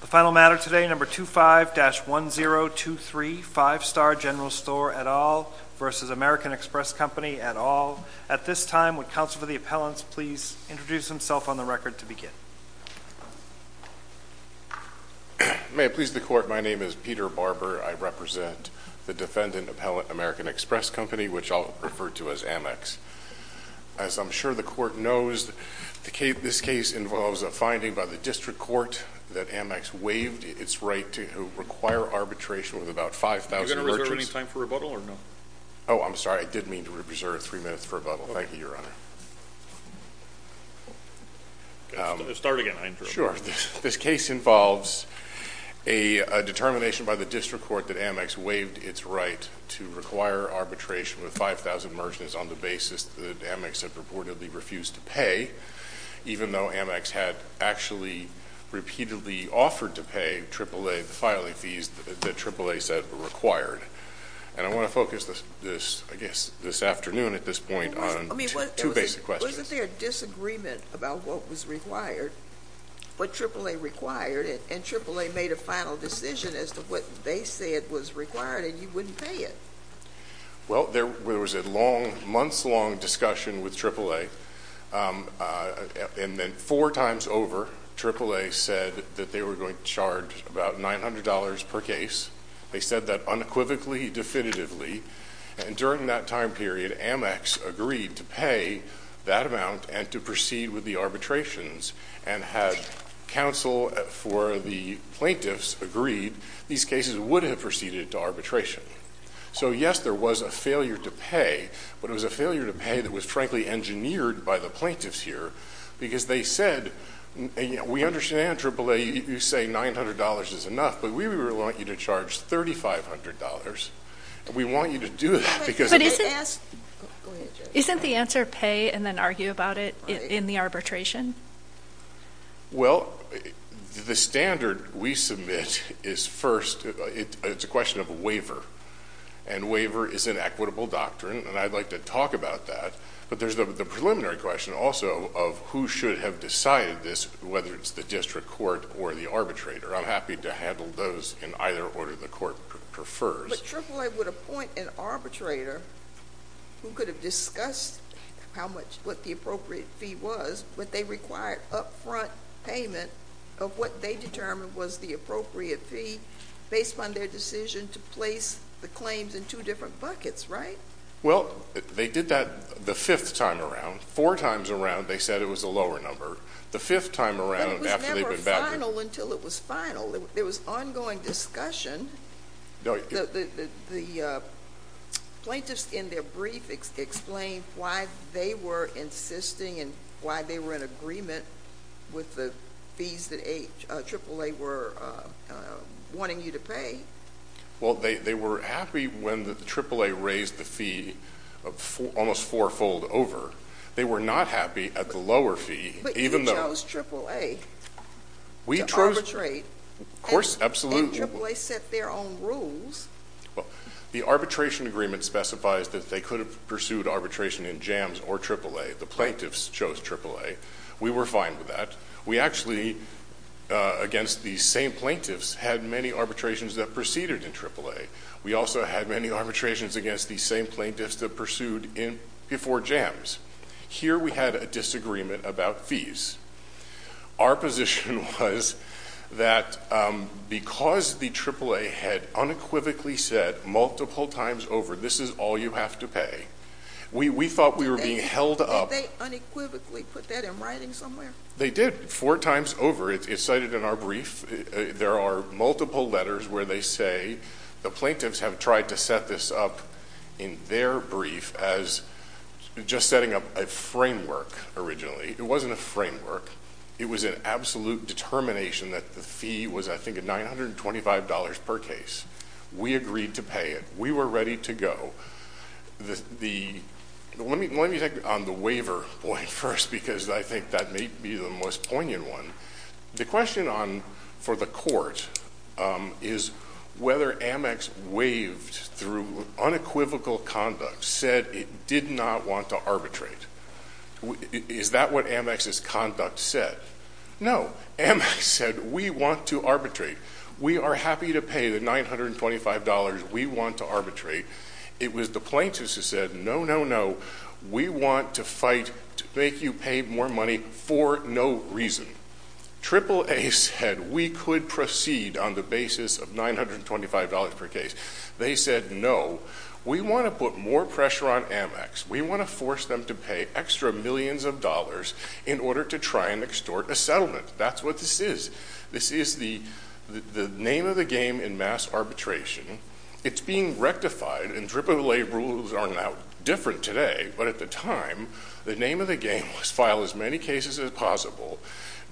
The final matter today, number 25-1023, 5-Star General Store et al. v. American Express Company et al. At this time, would counsel for the appellants please introduce himself on the record to begin. May it please the court, my name is Peter Barber. I represent the defendant appellant, American Express Company, which I'll refer to as Amex. As I'm sure the court knows, this case involves a finding by the district court that Amex waived its right to require arbitration with about 5,000 merchants. Are you going to reserve any time for rebuttal or no? Oh, I'm sorry. I did mean to reserve three minutes for rebuttal. Thank you, Your Honor. Start again, I interrupted. Sure. This case involves a determination by the district court that Amex waived its right to require arbitration with 5,000 merchants on the basis that Amex had reportedly refused to pay, even though Amex had actually repeatedly offered to pay AAA the filing fees that AAA said were required. And I want to focus this, I guess, this afternoon at this point on two basic questions. Wasn't there a disagreement about what was required, what AAA required, and AAA made a final decision as to what they said was required and you wouldn't pay it? Well, there was a long, months-long discussion with AAA, and then four times over, AAA said that they were going to charge about $900 per case. They said that unequivocally, definitively, and during that time period, Amex agreed to pay that amount and to proceed with the arbitrations, and had counsel for the plaintiffs agreed, these cases would have proceeded to arbitration. So, yes, there was a failure to pay, but it was a failure to pay that was frankly engineered by the plaintiffs here, because they said, we understand AAA, you say $900 is enough, but we want you to charge $3,500, and we want you to do that because But isn't the answer pay and then argue about it in the arbitration? Well, the standard we submit is first, it's a question of a waiver, and waiver is an equitable doctrine, and I'd like to talk about that, but there's the preliminary question also of who should have decided this, whether it's the district court or the arbitrator. I'm happy to handle those in either order the court prefers. But AAA would appoint an arbitrator who could have discussed how much, what the appropriate fee was, but they required upfront payment of what they determined was the appropriate fee based on their decision to place the claims in two different buckets, right? Well, they did that the fifth time around. Four times around, they said it was a lower number. The fifth time around, after they've been back But it was never final until it was final. There was ongoing discussion. The plaintiffs in their brief explained why they were insisting and why they were in agreement with the fees that AAA were wanting you to pay. Well, they were happy when the AAA raised the fee almost fourfold over. They were not happy at the lower fee, even though But you chose AAA to arbitrate. Of course, absolutely. But AAA set their own rules. Well, the arbitration agreement specifies that they could have pursued arbitration in JAMS or AAA. The plaintiffs chose AAA. We were fine with that. We actually, against these same plaintiffs, had many arbitrations that proceeded in AAA. We also had many arbitrations against these same plaintiffs that pursued in before JAMS. Here we had a disagreement about fees. Our position was that because the AAA had unequivocally said multiple times over, this is all you have to pay, we thought we were being held up Did they unequivocally put that in writing somewhere? They did, four times over. It's cited in our brief. There are multiple letters where they say the plaintiffs have tried to set this up in their brief as just setting up a framework originally. It wasn't a framework. It was an absolute determination that the fee was I think $925 per case. We agreed to pay it. We were ready to go. Let me take on the waiver point first because I think that may be the most poignant one. The question for the court is whether Amex waived through unequivocal conduct, said it did not want to arbitrate. Is that what Amex's conduct said? No. Amex said we want to arbitrate. We are happy to pay the $925. We want to arbitrate. It was the plaintiffs who said no, no, no. We want to fight to make you pay more money for no reason. AAA said we could proceed on the basis of $925 per case. They said no. We want to put more pressure on Amex. We want to force them to pay extra millions of dollars in order to try and extort a settlement. That's what this is. This is the name of the game in mass arbitration. It's being rectified and AAA rules are now different today, but at the time, the name of the game was file as many cases as possible,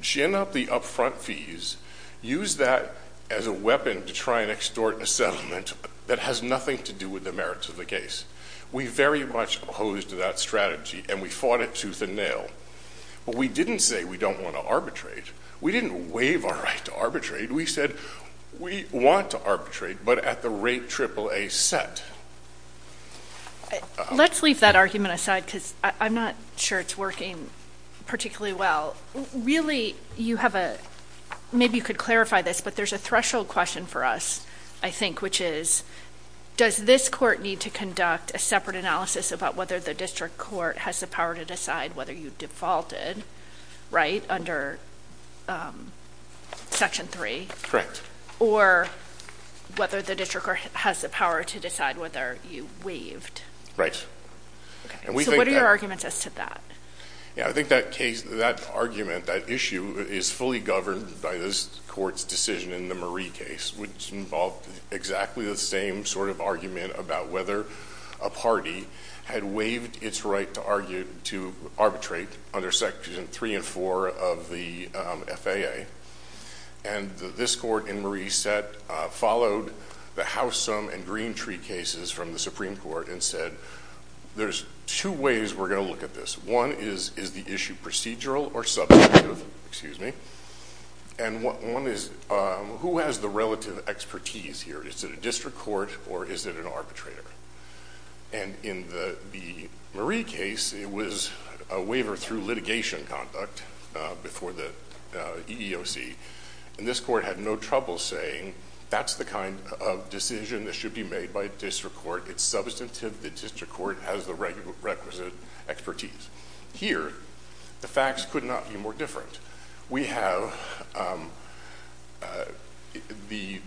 gin up the upfront fees, use that as a weapon to try and extort a settlement that has nothing to do with the merits of the case. We very much opposed that strategy and we fought it tooth and nail, but we didn't say we don't want to arbitrate. We didn't waive our right to arbitrate. We said we want to arbitrate, but at the rate Let's leave that argument aside because I'm not sure it's working particularly well. Really, you have a, maybe you could clarify this, but there's a threshold question for us, I think, which is, does this court need to conduct a separate analysis about whether the district court has the power to decide whether you defaulted, right, under Section 3? Correct. Or whether the district court has the power to decide whether you waived, right? And we think that arguments as to that. Yeah, I think that case, that argument, that issue is fully governed by this court's decision in the Marie case, which involved exactly the same sort of argument about whether a party had waived its right to argue to arbitrate under section three and four of the FAA. And this court in Marie followed the House Sum and Green Tree cases from the Supreme Court and said, there's two ways we're going to look at this. One is, is the issue procedural or substantive? Excuse me. And what one is, who has the relative expertise here? Is it a district court or is it an arbitrator? And in the Marie case, it was a waiver through litigation conduct before the EEOC. And this court had no trouble saying, that's the kind of decision that should be made by a district court. It's substantive. The district court has the requisite expertise. Here, the facts could not be more different. We have the,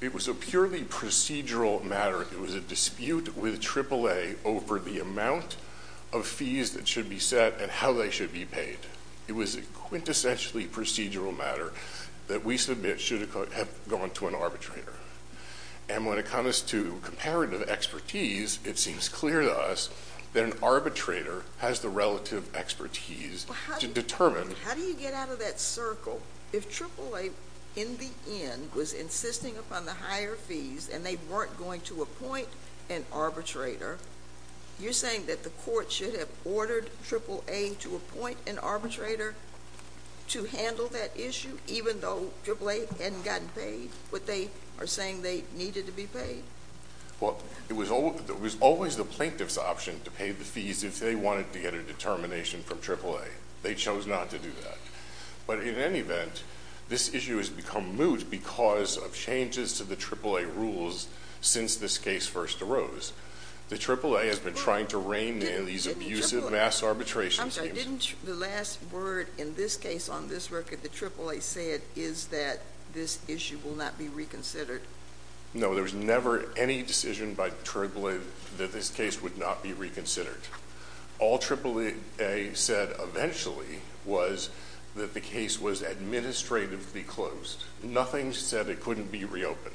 it was a purely procedural matter. It was a dispute with AAA over the amount of fees that should be set and how they should be paid. It was a quintessentially procedural matter that we submit should have gone to an arbitrator. And when it comes to comparative expertise, it seems clear to us that an arbitrator has the relative expertise to determine. How do you get out of that circle? If AAA in the end was insisting upon the higher fees and they weren't going to appoint an arbitrator, you're saying that the court should have ordered AAA to appoint an arbitrator to handle that issue, even though AAA hadn't gotten paid what they are saying they needed to be paid? Well, it was always the plaintiff's option to pay the fees if they wanted to get a determination from AAA. They chose not to do that. But in any event, this issue has become moot because of changes to the AAA rules since this case first arose. The AAA has been trying to rein in these abusive mass arbitration schemes. I'm sorry, didn't the last word in this case on this record that AAA said is that this issue will not be reconsidered? No, there was never any decision by AAA that this case would not be reconsidered. All AAA said eventually was that the case was administratively closed. Nothing said it couldn't be reopened.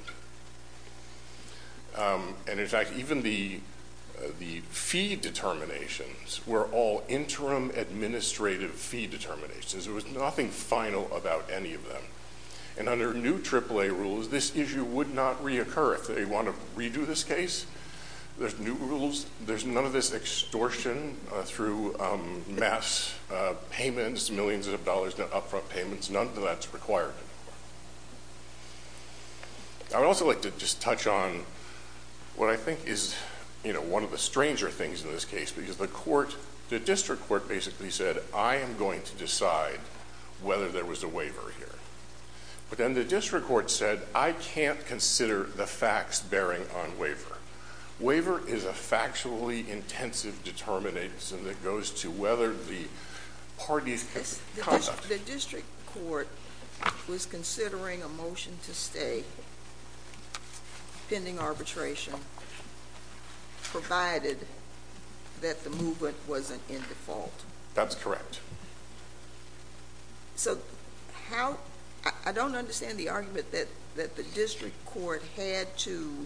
And in fact, even the fee determinations were all interim administrative fee determinations. There was nothing final about any of them. And under new AAA rules, this issue would not reoccur. If they want to redo this case, there's new rules. There's none of this extortion through mass payments, millions of dollars upfront payments. None of that's required anymore. I would also like to just touch on what I think is one of the stranger things in this case, because the district court basically said, I am going to decide whether there was a waiver here. But then the district court said, I can't consider the facts bearing on waiver. Waiver is a factually intensive determination that goes to whether the parties conduct. The district court was considering a motion to stay pending arbitration provided that the movement wasn't in default. That's correct. So how, I don't understand the argument that the district court had to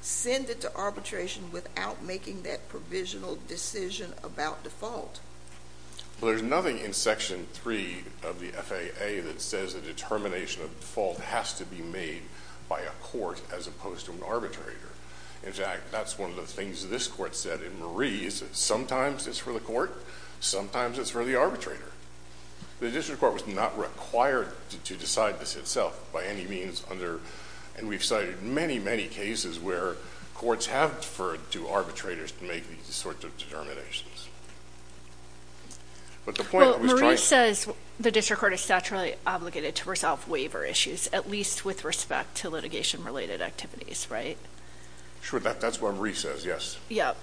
send it to arbitration without making that provisional decision about default. Well, there's nothing in section three of the FAA that says a determination of default has to be made by a court as opposed to an arbitrator. In fact, that's one of the things this court said in Marie, is that sometimes it's for the court, sometimes it's for the arbitrator. The district court was not required to decide this itself by any means under, and we've cited many, many cases where courts have deferred to arbitrators to make these sorts of determinations. But the point I was trying to- Well, Marie says the district court is statutorily obligated to resolve waiver issues, at least with respect to litigation-related activities, right? Sure, that's what Marie says, yes. Yep.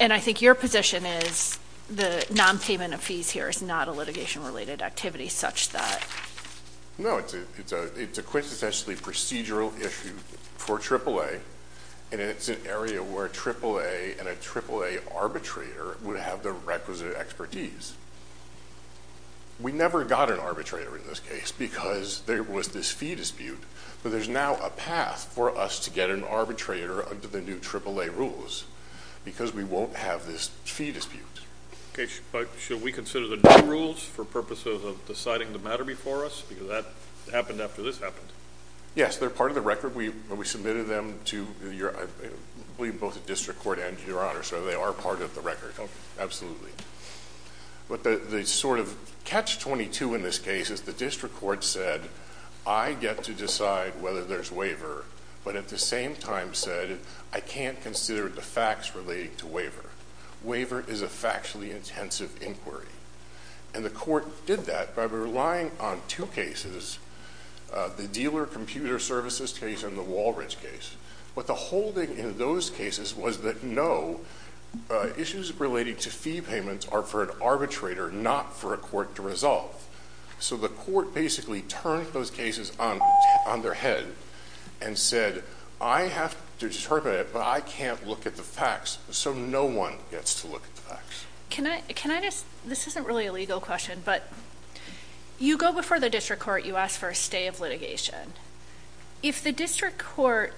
And I think your position is the non-payment of fees here is not a litigation-related activity such that- No, it's a quintessentially procedural issue for AAA, and it's an area where AAA and a AAA arbitrator would have the requisite expertise. We never got an arbitrator in this case because there was this fee dispute, but there's now a path for us to get an arbitrator under the new AAA rules because we won't have this fee dispute. Okay, but should we consider the new rules for purposes of deciding the matter before us? Because that happened after this happened. Yes, they're part of the record. We submitted them to, I believe, both the district court and your Honor, so they are part of the record. Okay. Absolutely. But the sort of catch-22 in this case is the district court said, I get to decide whether there's waiver, but at the same time said, I can't consider the facts relating to waiver. Waiver is a factually intensive inquiry. And the court did that by relying on two cases, the dealer computer services case and the Walridge case. But the holding in those cases was that no, issues relating to fee payments are for an arbitrator, not for a court to resolve. So the court basically turned those cases on their head and said, I have to determine it, but I can't look at the facts. So no one gets to look at the facts. Can I just, this isn't really a legal question, but you go before the district court, you ask for a stay of litigation. If the district court,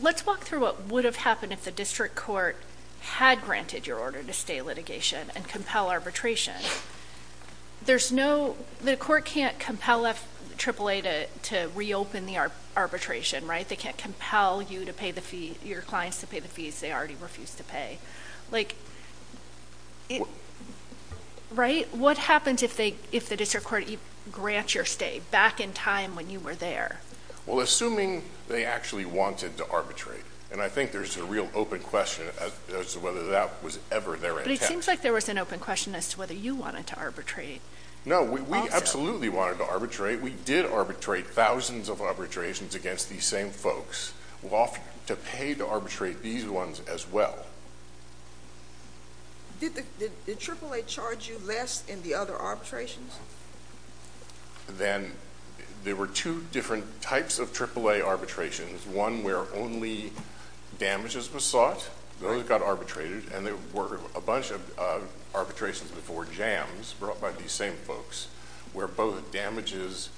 let's walk through what would have happened if the district court had granted your order to stay litigation and compel arbitration. There's no, the court can't compel FAAA to reopen the arbitration, right? They can't compel you to pay the fee, your clients to pay the fees they already refused to pay. Like, right? What happens if the district court grants your stay back in time when you were there? Well, assuming they actually wanted to arbitrate, and I think there's a real open question as to whether that was ever their intent. But it seems like there was an open question as to whether you wanted to arbitrate. No, we absolutely wanted to arbitrate. We did arbitrate thousands of arbitrations against these same folks. We offered to pay to arbitrate these ones as well. Did AAA charge you less in the other arbitrations? Then there were two different types of AAA arbitrations. One where only damages were sought, those got arbitrated, and there were a bunch of arbitrations before jams brought by these same folks where both damages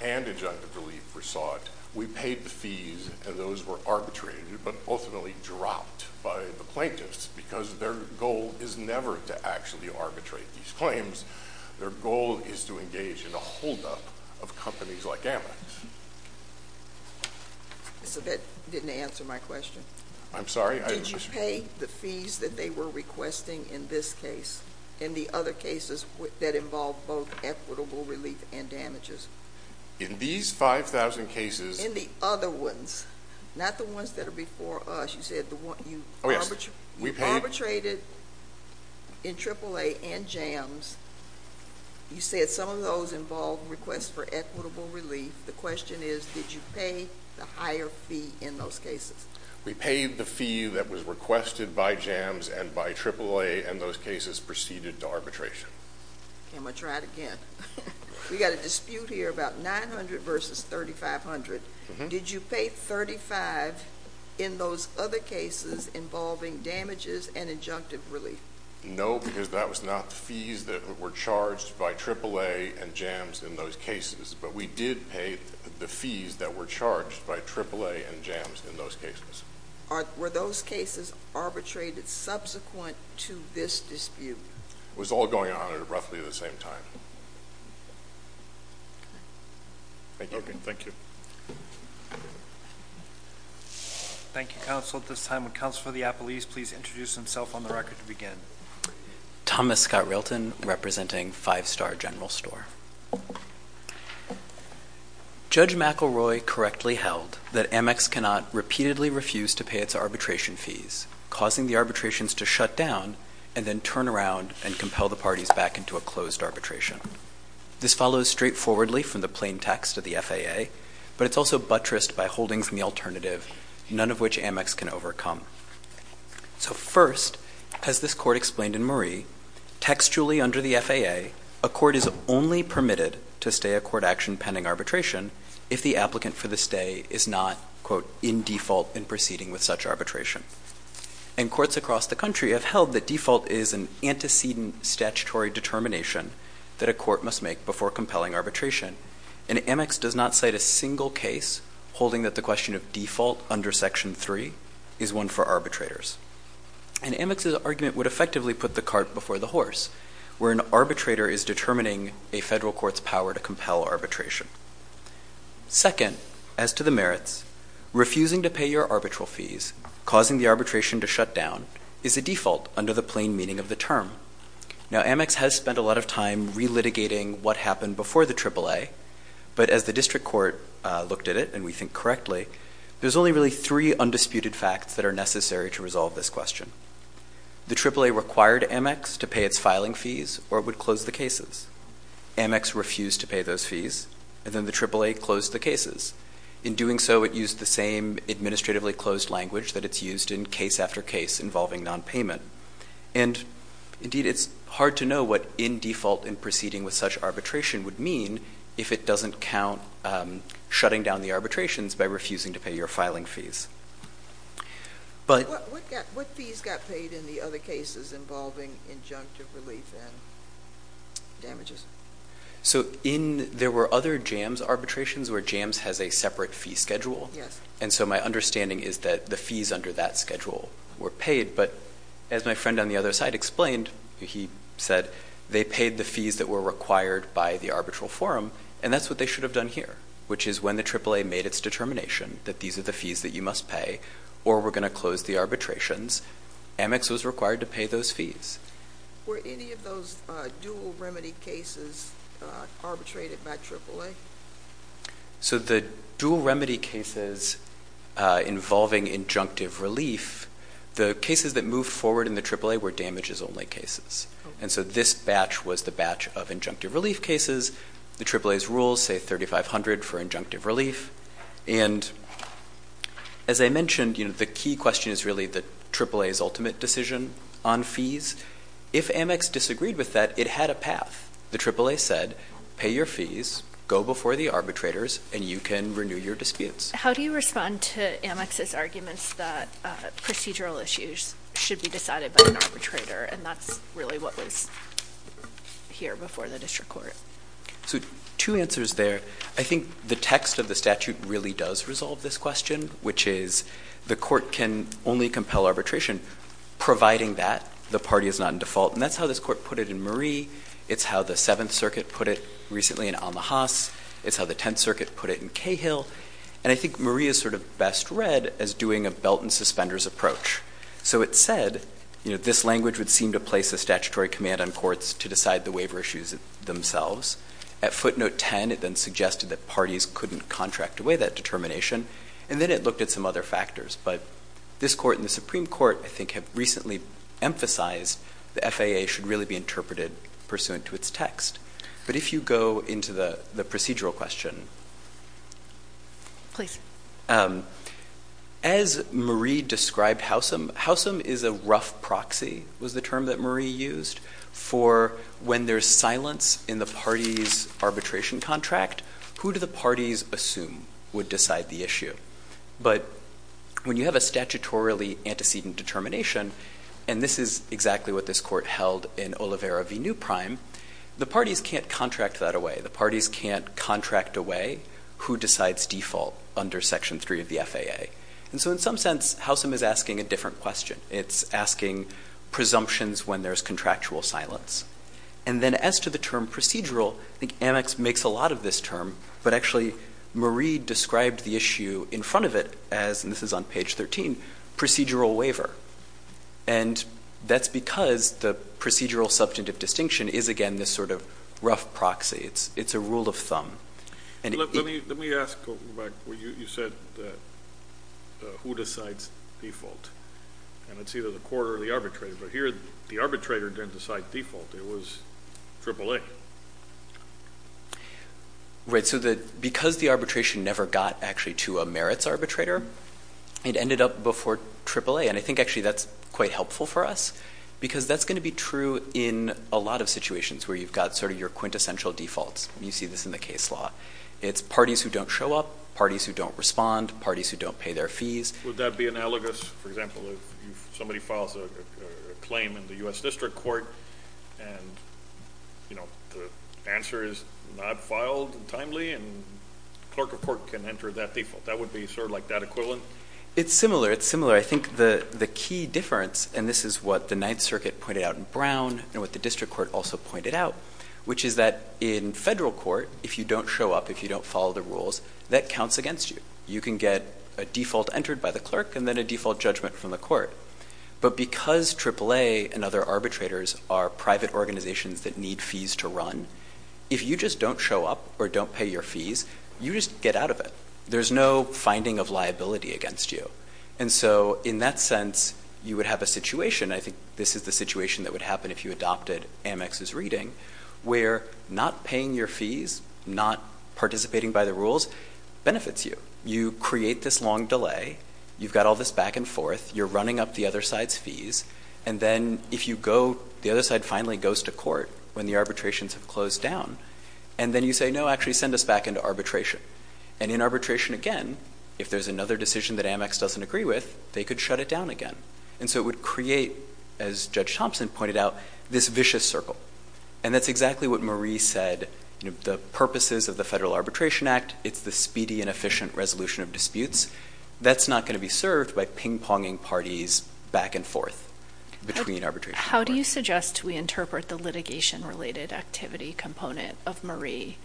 and injunctive relief were sought. We paid the fees, and those were arbitrated but ultimately dropped by the plaintiffs because their goal is never to actually arbitrate these claims. Their goal is to engage in a holdup of companies like AmEx. So that didn't answer my question. I'm sorry. Did you pay the fees that they were requesting in this case and the other cases that involved both equitable relief and damages? In these 5,000 cases... In the other ones, not the ones that are before us. You said you arbitrated in AAA and jams. You said some of those involved requests for equitable relief. The question is, did you pay the higher fee in those cases? We paid the fee that was requested by jams and by AAA, and those cases proceeded to arbitration. Okay, I'm going to try it again. We got a dispute here about 900 versus 3,500. Did you pay 3,500 in those other cases involving damages and injunctive relief? No, because that was not the fees that were charged by AAA and jams in those cases, but we did pay the fees that were charged by AAA and jams in those cases. Were those cases arbitrated subsequent to this dispute? It was all going on at roughly the same time. Okay, thank you. Thank you, Counsel. At this time, would Counsel for the Appellees please introduce himself on the record to begin? Thomas Scott Rilton, representing Five Star General Store. Judge McElroy correctly held that Amex cannot repeatedly refuse to pay its arbitration fees, causing the arbitrations to shut down and then turn around and compel the parties back into a closed arbitration. This follows straightforwardly from the plain text of the FAA, but it's also buttressed by holdings from the alternative, none of which Amex can overcome. So first, as this Court explained in Murray, textually under the FAA, a court is only permitted to stay a court action pending arbitration if the applicant for the stay is not, quote, in default in proceeding with such arbitration. And courts across the country have held that default is an antecedent statutory determination that a court must make before compelling arbitration. And Amex does not cite a single case holding that the question of default under Section 3 is one for arbitrators. And Amex's argument would effectively put the cart before the horse, where an arbitrator is determining a federal court's power to compel arbitration. Second, as to the merits, refusing to pay your arbitral fees, causing the arbitration to shut down, is a default under the plain meaning of the term. Now, Amex has spent a lot of time relitigating what happened before the AAA, but as the district court looked at it, and we think correctly, there's only really three undisputed facts that are necessary to resolve this question. The AAA required Amex to pay its filing fees, or it would close the cases. Amex refused to pay those fees, and then the AAA closed the cases. In doing so, it used the same administratively closed language that it's used in case after case involving nonpayment. And indeed, it's hard to know what in default in proceeding with such arbitration would mean if it doesn't count shutting down the arbitrations by refusing to pay your filing fees. But... What fees got paid in the other cases involving injunctive relief and damages? So, in there were other JAMS arbitrations where JAMS has a separate fee schedule. Yes. And so my understanding is that the fees under that schedule were paid, but as my friend on the other side explained, he said, they paid the fees that were required by the arbitral forum, and that's what they should have done here, which is when the AAA made its determination that these are the fees that you must pay, or we're going to close the arbitrations, Amex was required to pay those fees. Were any of those dual remedy cases arbitrated by AAA? So the dual remedy cases involving injunctive relief, the cases that moved forward in the AAA were damages only cases. And so this batch was the batch of injunctive relief cases. The AAA's rules say $3,500 for injunctive relief. And as I mentioned, the key question is really the AAA's ultimate decision on fees. If Amex disagreed with that, it had a path. The AAA said, pay your fees, go before the arbitrators, and you can renew your disputes. How do you respond to Amex's arguments that procedural issues should be decided by an arbitrator, and that's really what was here before the district court? So two answers there. I think the text of the statute really does resolve this question, which is the court can only compel arbitration, providing that the party is not in default. And that's how this court put it in Murray. It's how the Seventh Circuit put it recently in Amahas. It's how the Tenth Circuit put it in Cahill. And I think Murray is sort of best read as doing a belt and suspenders approach. So it said, this language would seem to place a statutory command on courts to decide the waiver issues themselves. At footnote 10, it then suggested that parties couldn't contract away that determination. And then it looked at some other factors. But this court and the Supreme Court, I think, have recently emphasized the FAA should really be interpreted pursuant to its text. But if you go into the procedural question, as Murray described Howsam, Howsam is a rough proxy, was the term that Murray used, for when there's silence in the party's arbitration contract, who do the parties assume would decide the issue? But when you have a statutorily antecedent determination, and this is exactly what this court held in Oliveira v. New Prime, the parties can't contract that away. The parties can't contract away who decides default under Section 3 of the FAA. And so in some sense, Howsam is asking a different question. It's asking presumptions when there's contractual silence. And then as to the term procedural, I think Amex makes a lot of this term. But actually, Murray described the issue in front of it as, and this is on page 13, procedural waiver. And that's because the procedural substantive distinction is, again, this sort of rough proxy. It's a rule of thumb. And let me ask, you said who decides default. And it's either the court or the arbitrator. But here, the arbitrator didn't decide default. It was AAA. Right. So because the arbitration never got actually to a merits arbitrator, it ended up before AAA. I think actually that's quite helpful for us, because that's going to be true in a lot of situations where you've got sort of your quintessential defaults. You see this in the case law. It's parties who don't show up, parties who don't respond, parties who don't pay their fees. Would that be analogous, for example, if somebody files a claim in the U.S. District Court and the answer is not filed timely and the clerk of court can enter that default? That would be sort of like that equivalent? It's similar. It's similar. But I think the key difference, and this is what the Ninth Circuit pointed out in Brown and what the District Court also pointed out, which is that in federal court, if you don't show up, if you don't follow the rules, that counts against you. You can get a default entered by the clerk and then a default judgment from the court. But because AAA and other arbitrators are private organizations that need fees to run, if you just don't show up or don't pay your fees, you just get out of it. There's no finding of liability against you. And so in that sense, you would have a situation, I think this is the situation that would happen if you adopted Amex's reading, where not paying your fees, not participating by the rules benefits you. You create this long delay. You've got all this back and forth. You're running up the other side's fees. And then if you go, the other side finally goes to court when the arbitrations have closed down. And then you say, no, actually send us back into arbitration. And in arbitration, again, if there's another decision that Amex doesn't agree with, they could shut it down again. And so it would create, as Judge Thompson pointed out, this vicious circle. And that's exactly what Marie said. The purposes of the Federal Arbitration Act, it's the speedy and efficient resolution of disputes. That's not going to be served by ping-ponging parties back and forth between arbitration. How do you suggest we interpret the litigation-related activity component of Marie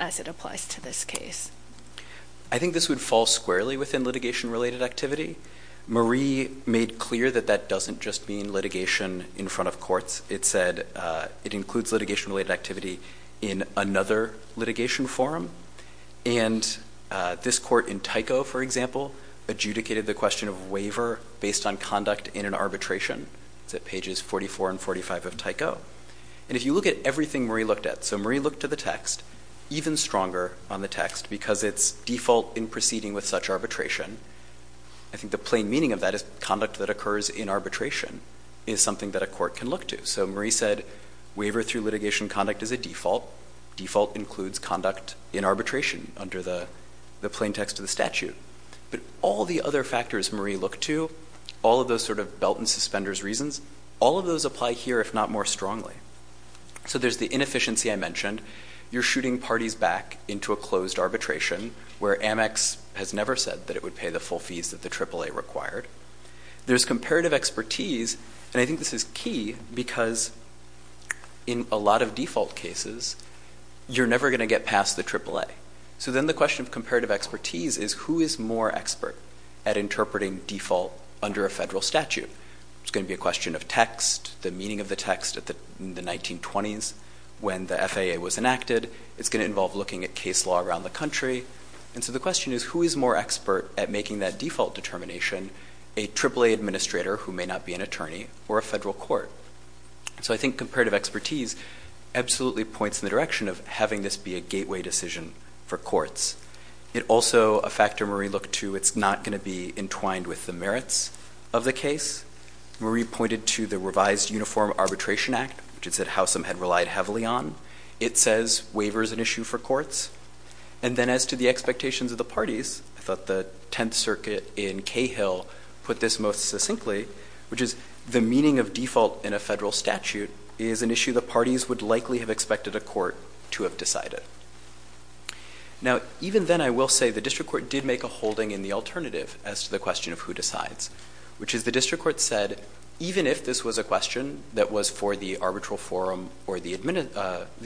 as it applies to this case? I think this would fall squarely within litigation-related activity. Marie made clear that that doesn't just mean litigation in front of courts. It said it includes litigation-related activity in another litigation forum. And this court in Tyco, for example, adjudicated the question of waiver based on conduct in an arbitration. It's at pages 44 and 45 of Tyco. And if you look at everything Marie looked at, so Marie looked to the text, even stronger on the text, because it's default in proceeding with such arbitration. I think the plain meaning of that is conduct that occurs in arbitration is something that a court can look to. So Marie said, waiver through litigation conduct is a default. Default includes conduct in arbitration under the plain text of the statute. But all the other factors Marie looked to, all of those sort of belt and suspenders reasons, all of those apply here, if not more strongly. So there's the inefficiency I mentioned. You're shooting parties back into a closed arbitration where Amex has never said that it would pay the full fees that the AAA required. There's comparative expertise. And I think this is key because in a lot of default cases, you're never going to get past the AAA. So then the question of comparative expertise is who is more expert at interpreting default under a federal statute? It's going to be a question of text, the meaning of the text in the 1920s when the FAA was enacted. It's going to involve looking at case law around the country. And so the question is, who is more expert at making that default determination? A AAA administrator who may not be an attorney or a federal court. So I think comparative expertise absolutely points in the direction of having this be a gateway decision for courts. It also, a factor Marie looked to, it's not going to be entwined with the merits of the case. Marie pointed to the revised Uniform Arbitration Act, which it said Howsam had relied heavily on. It says waiver is an issue for courts. And then as to the expectations of the parties, I thought the 10th Circuit in Cahill put this most succinctly, which is the meaning of default in a federal statute is an issue the parties would likely have expected a court to have decided. Now, even then, I will say the district court did make a holding in the alternative as to the question of who decides, which is the district court said, even if this was a question that was for the arbitral forum or the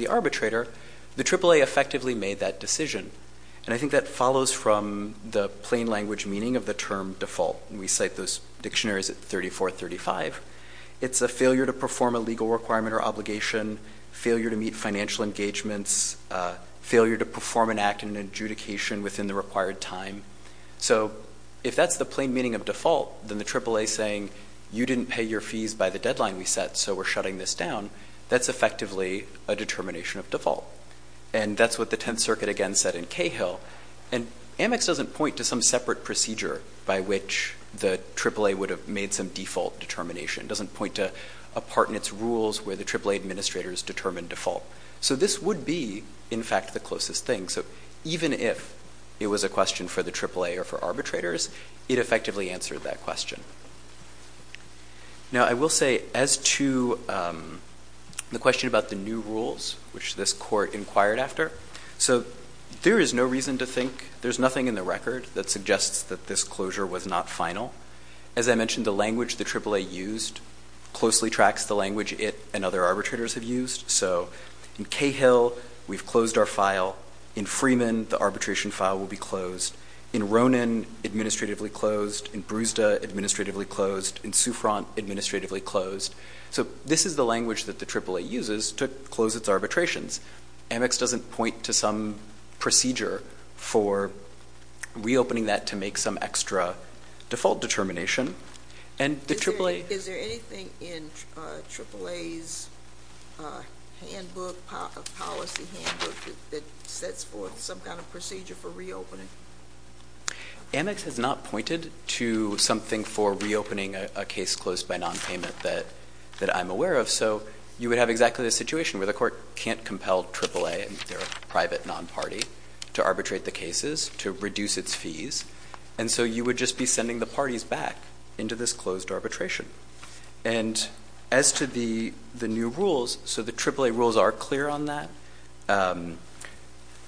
arbitrator, the AAA effectively made that decision. And I think that follows from the plain language meaning of the term default. We cite those dictionaries at 34, 35. It's a failure to perform a legal requirement or obligation, failure to meet financial engagements, failure to perform an act and an adjudication within the required time. So if that's the plain meaning of default, then the AAA saying, you didn't pay your fees by the deadline we set, so we're shutting this down, that's effectively a determination of default. And that's what the 10th Circuit again said in Cahill. And Amex doesn't point to some separate procedure by which the AAA would have made some default determination, doesn't point to a part in its rules where the AAA administrators determined default. So this would be, in fact, the closest thing. So even if it was a question for the AAA or for arbitrators, it effectively answered that question. Now, I will say as to the question about the new rules, which this court inquired after, so there is no reason to think, there's nothing in the record that suggests that this closure was not final. As I mentioned, the language the AAA used closely tracks the language it and other arbitrators have used. So in Cahill, we've closed our file. In Freeman, the arbitration file will be closed. In Ronan, administratively closed. In Brewsda, administratively closed. In Souffrant, administratively closed. So this is the language that the AAA uses to close its arbitrations. Amex doesn't point to some procedure for reopening that to make some extra default determination. And the AAA- Is there anything in AAA's policy handbook that sets forth some kind of procedure for reopening? Amex has not pointed to something for reopening a case closed by nonpayment that I'm aware of. So you would have exactly the situation where the court can't compel AAA and their private non-party to arbitrate the cases, to reduce its fees. And so you would just be sending the parties back into this closed arbitration. And as to the new rules, so the AAA rules are clear on that.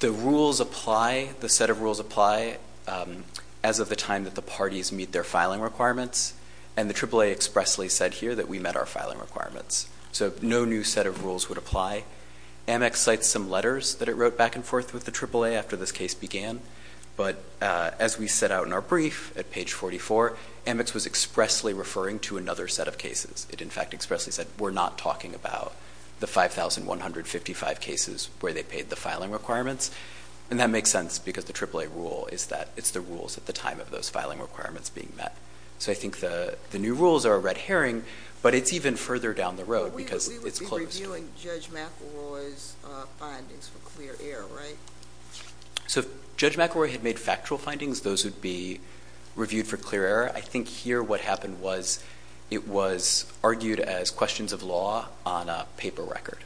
The rules apply, the set of rules apply as of the time that the parties meet their filing requirements. And the AAA expressly said here that we met our filing requirements. So no new set of rules would apply. Amex cites some letters that it wrote back and forth with the AAA after this case began. But as we set out in our brief at page 44, Amex was expressly referring to another set of cases. It in fact expressly said, we're not talking about the 5,155 cases where they paid the filing requirements. And that makes sense because the AAA rule is that it's the rules at the time of those filing requirements being met. So I think the new rules are a red herring, but it's even further down the road because it's closed. We would be reviewing Judge McElroy's findings for clear error, right? So if Judge McElroy had made factual findings, those would be reviewed for clear error. I think here what happened was it was argued as questions of law on a paper record.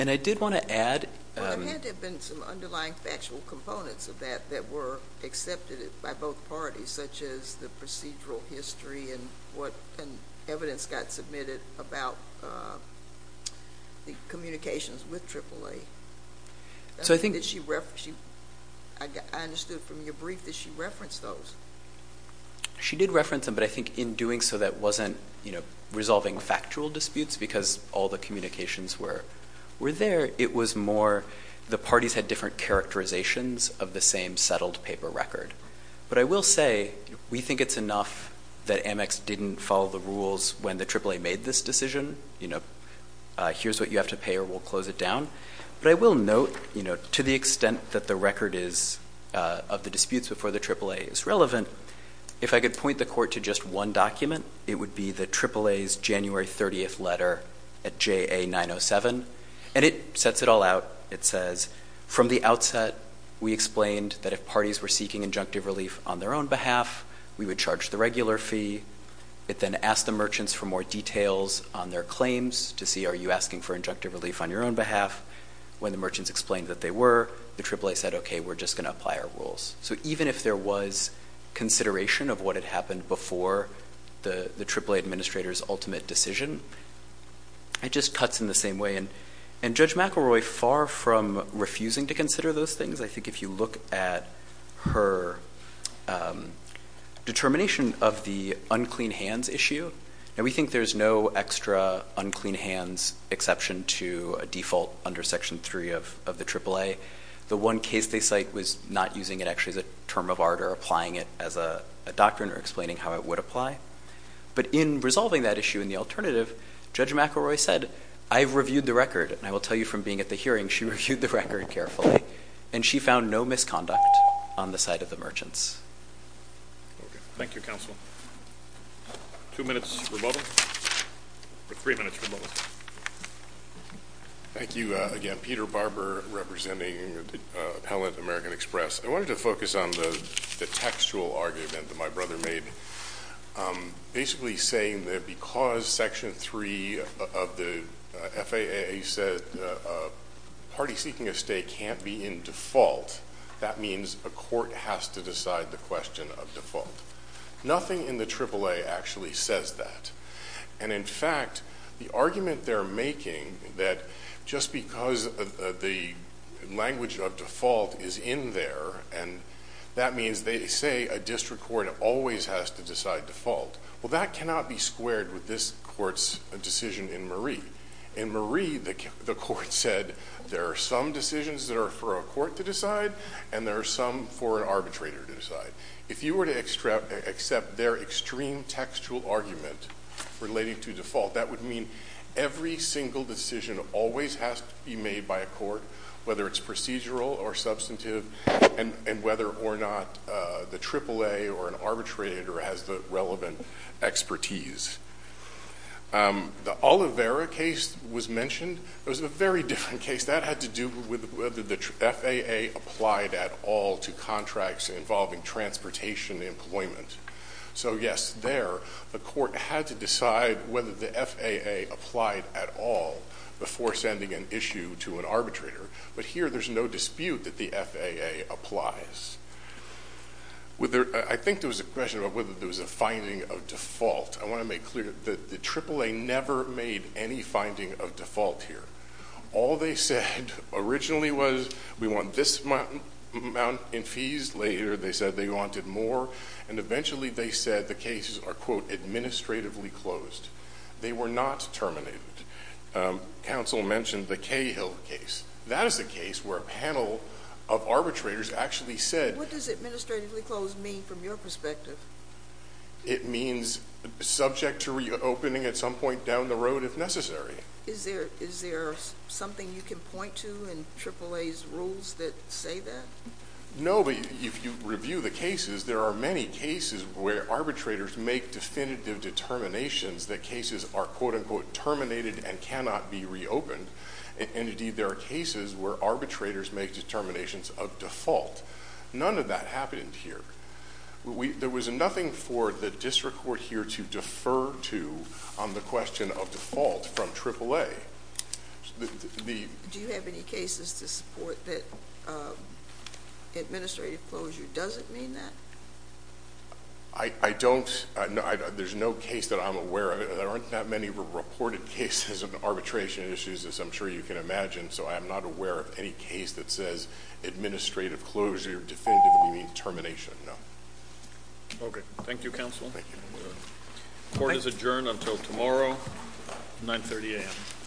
And I did want to add... There had to have been some underlying factual components of that that were accepted by both parties, such as the procedural history and what evidence got submitted about the communications with AAA. I understood from your brief that she referenced those. She did reference them, but I think in doing so, that wasn't resolving factual disputes because all the communications were there. It was more the parties had different characterizations of the same settled paper record. But I will say we think it's enough that Amex didn't follow the rules when the AAA made this decision. Here's what you have to pay or we'll close it down. But I will note to the extent that the record is of the disputes before the AAA is relevant, if I could point the court to just one document, it would be the AAA's January 30th letter at JA 907. And it sets it all out. It says, from the outset, we explained that if parties were seeking injunctive relief on their own behalf, we would charge the regular fee. It then asked the merchants for more details on their claims to see, are you asking for injunctive relief on your own behalf? When the merchants explained that they were, the AAA said, okay, we're just going to apply our rules. So even if there was consideration of what had happened before the AAA administrator's ultimate decision, it just cuts in the same way. And Judge McElroy, far from refusing to consider those things, I think if you look at her determination of the unclean hands issue, and we think there's no extra unclean hands exception to a default under section three of the AAA. The one case they cite was not using it actually as a term of art or applying it as a doctrine or explaining how it would apply. But in resolving that issue and the alternative, Judge McElroy said, I've reviewed the record and I will tell you from being at the hearing, she reviewed the record carefully and she found no misconduct on the side of the merchants. Okay. Thank you, counsel. Two minutes for bubbles. Or three minutes for bubbles. Thank you again, Peter Barber, representing Appellant American Express. I wanted to focus on the textual argument that my brother made, basically saying that because section three of the FAA said party seeking a stay can't be in default, that means a court has to decide the question of default. Nothing in the AAA actually says that. And in fact, the argument they're making that just because the language of default is in there and that means they say a district court always has to decide default. Well, that cannot be squared with this court's decision in Marie. In Marie, the court said there are some decisions that are for a court to decide and there are some for an arbitrator to decide. If you were to accept their extreme textual argument relating to default, that would mean every single decision always has to be made by a court, whether it's procedural or substantive and whether or not the AAA or an arbitrator has the relevant expertise. The Oliveira case was mentioned. It was a very different case. That had to do with whether the FAA applied at all to contracts involving transportation employment. So yes, there, the court had to decide whether the FAA applied at all before sending an issue to an arbitrator. But here, there's no dispute that the FAA applies. I think there was a question about whether there was a finding of default. I want to make clear that the AAA never made any finding of default here. All they said originally was, we want this amount in fees. Later, they said they wanted more and eventually they said the cases are quote, administratively closed. They were not terminated. Counsel mentioned the Cahill case. That is a case where a panel of arbitrators actually said- What does administratively closed mean from your perspective? It means subject to reopening at some point down the road if necessary. Is there something you can point to in AAA's rules that say that? No, but if you review the cases, there are many cases where arbitrators make definitive determinations that cases are quote unquote terminated and cannot be reopened. And indeed, there are cases where arbitrators make determinations of default. None of that happened here. There was nothing for the district court here to defer to on the question of default from AAA. Do you have any cases to support that administrative closure doesn't mean that? I don't. There's no case that I'm aware of. There aren't that many reported cases of arbitration issues as I'm sure you can imagine. So I'm not aware of any case that says administrative closure definitively means termination. Okay. Thank you, counsel. Thank you. Court is adjourned until tomorrow 9 30 a.m.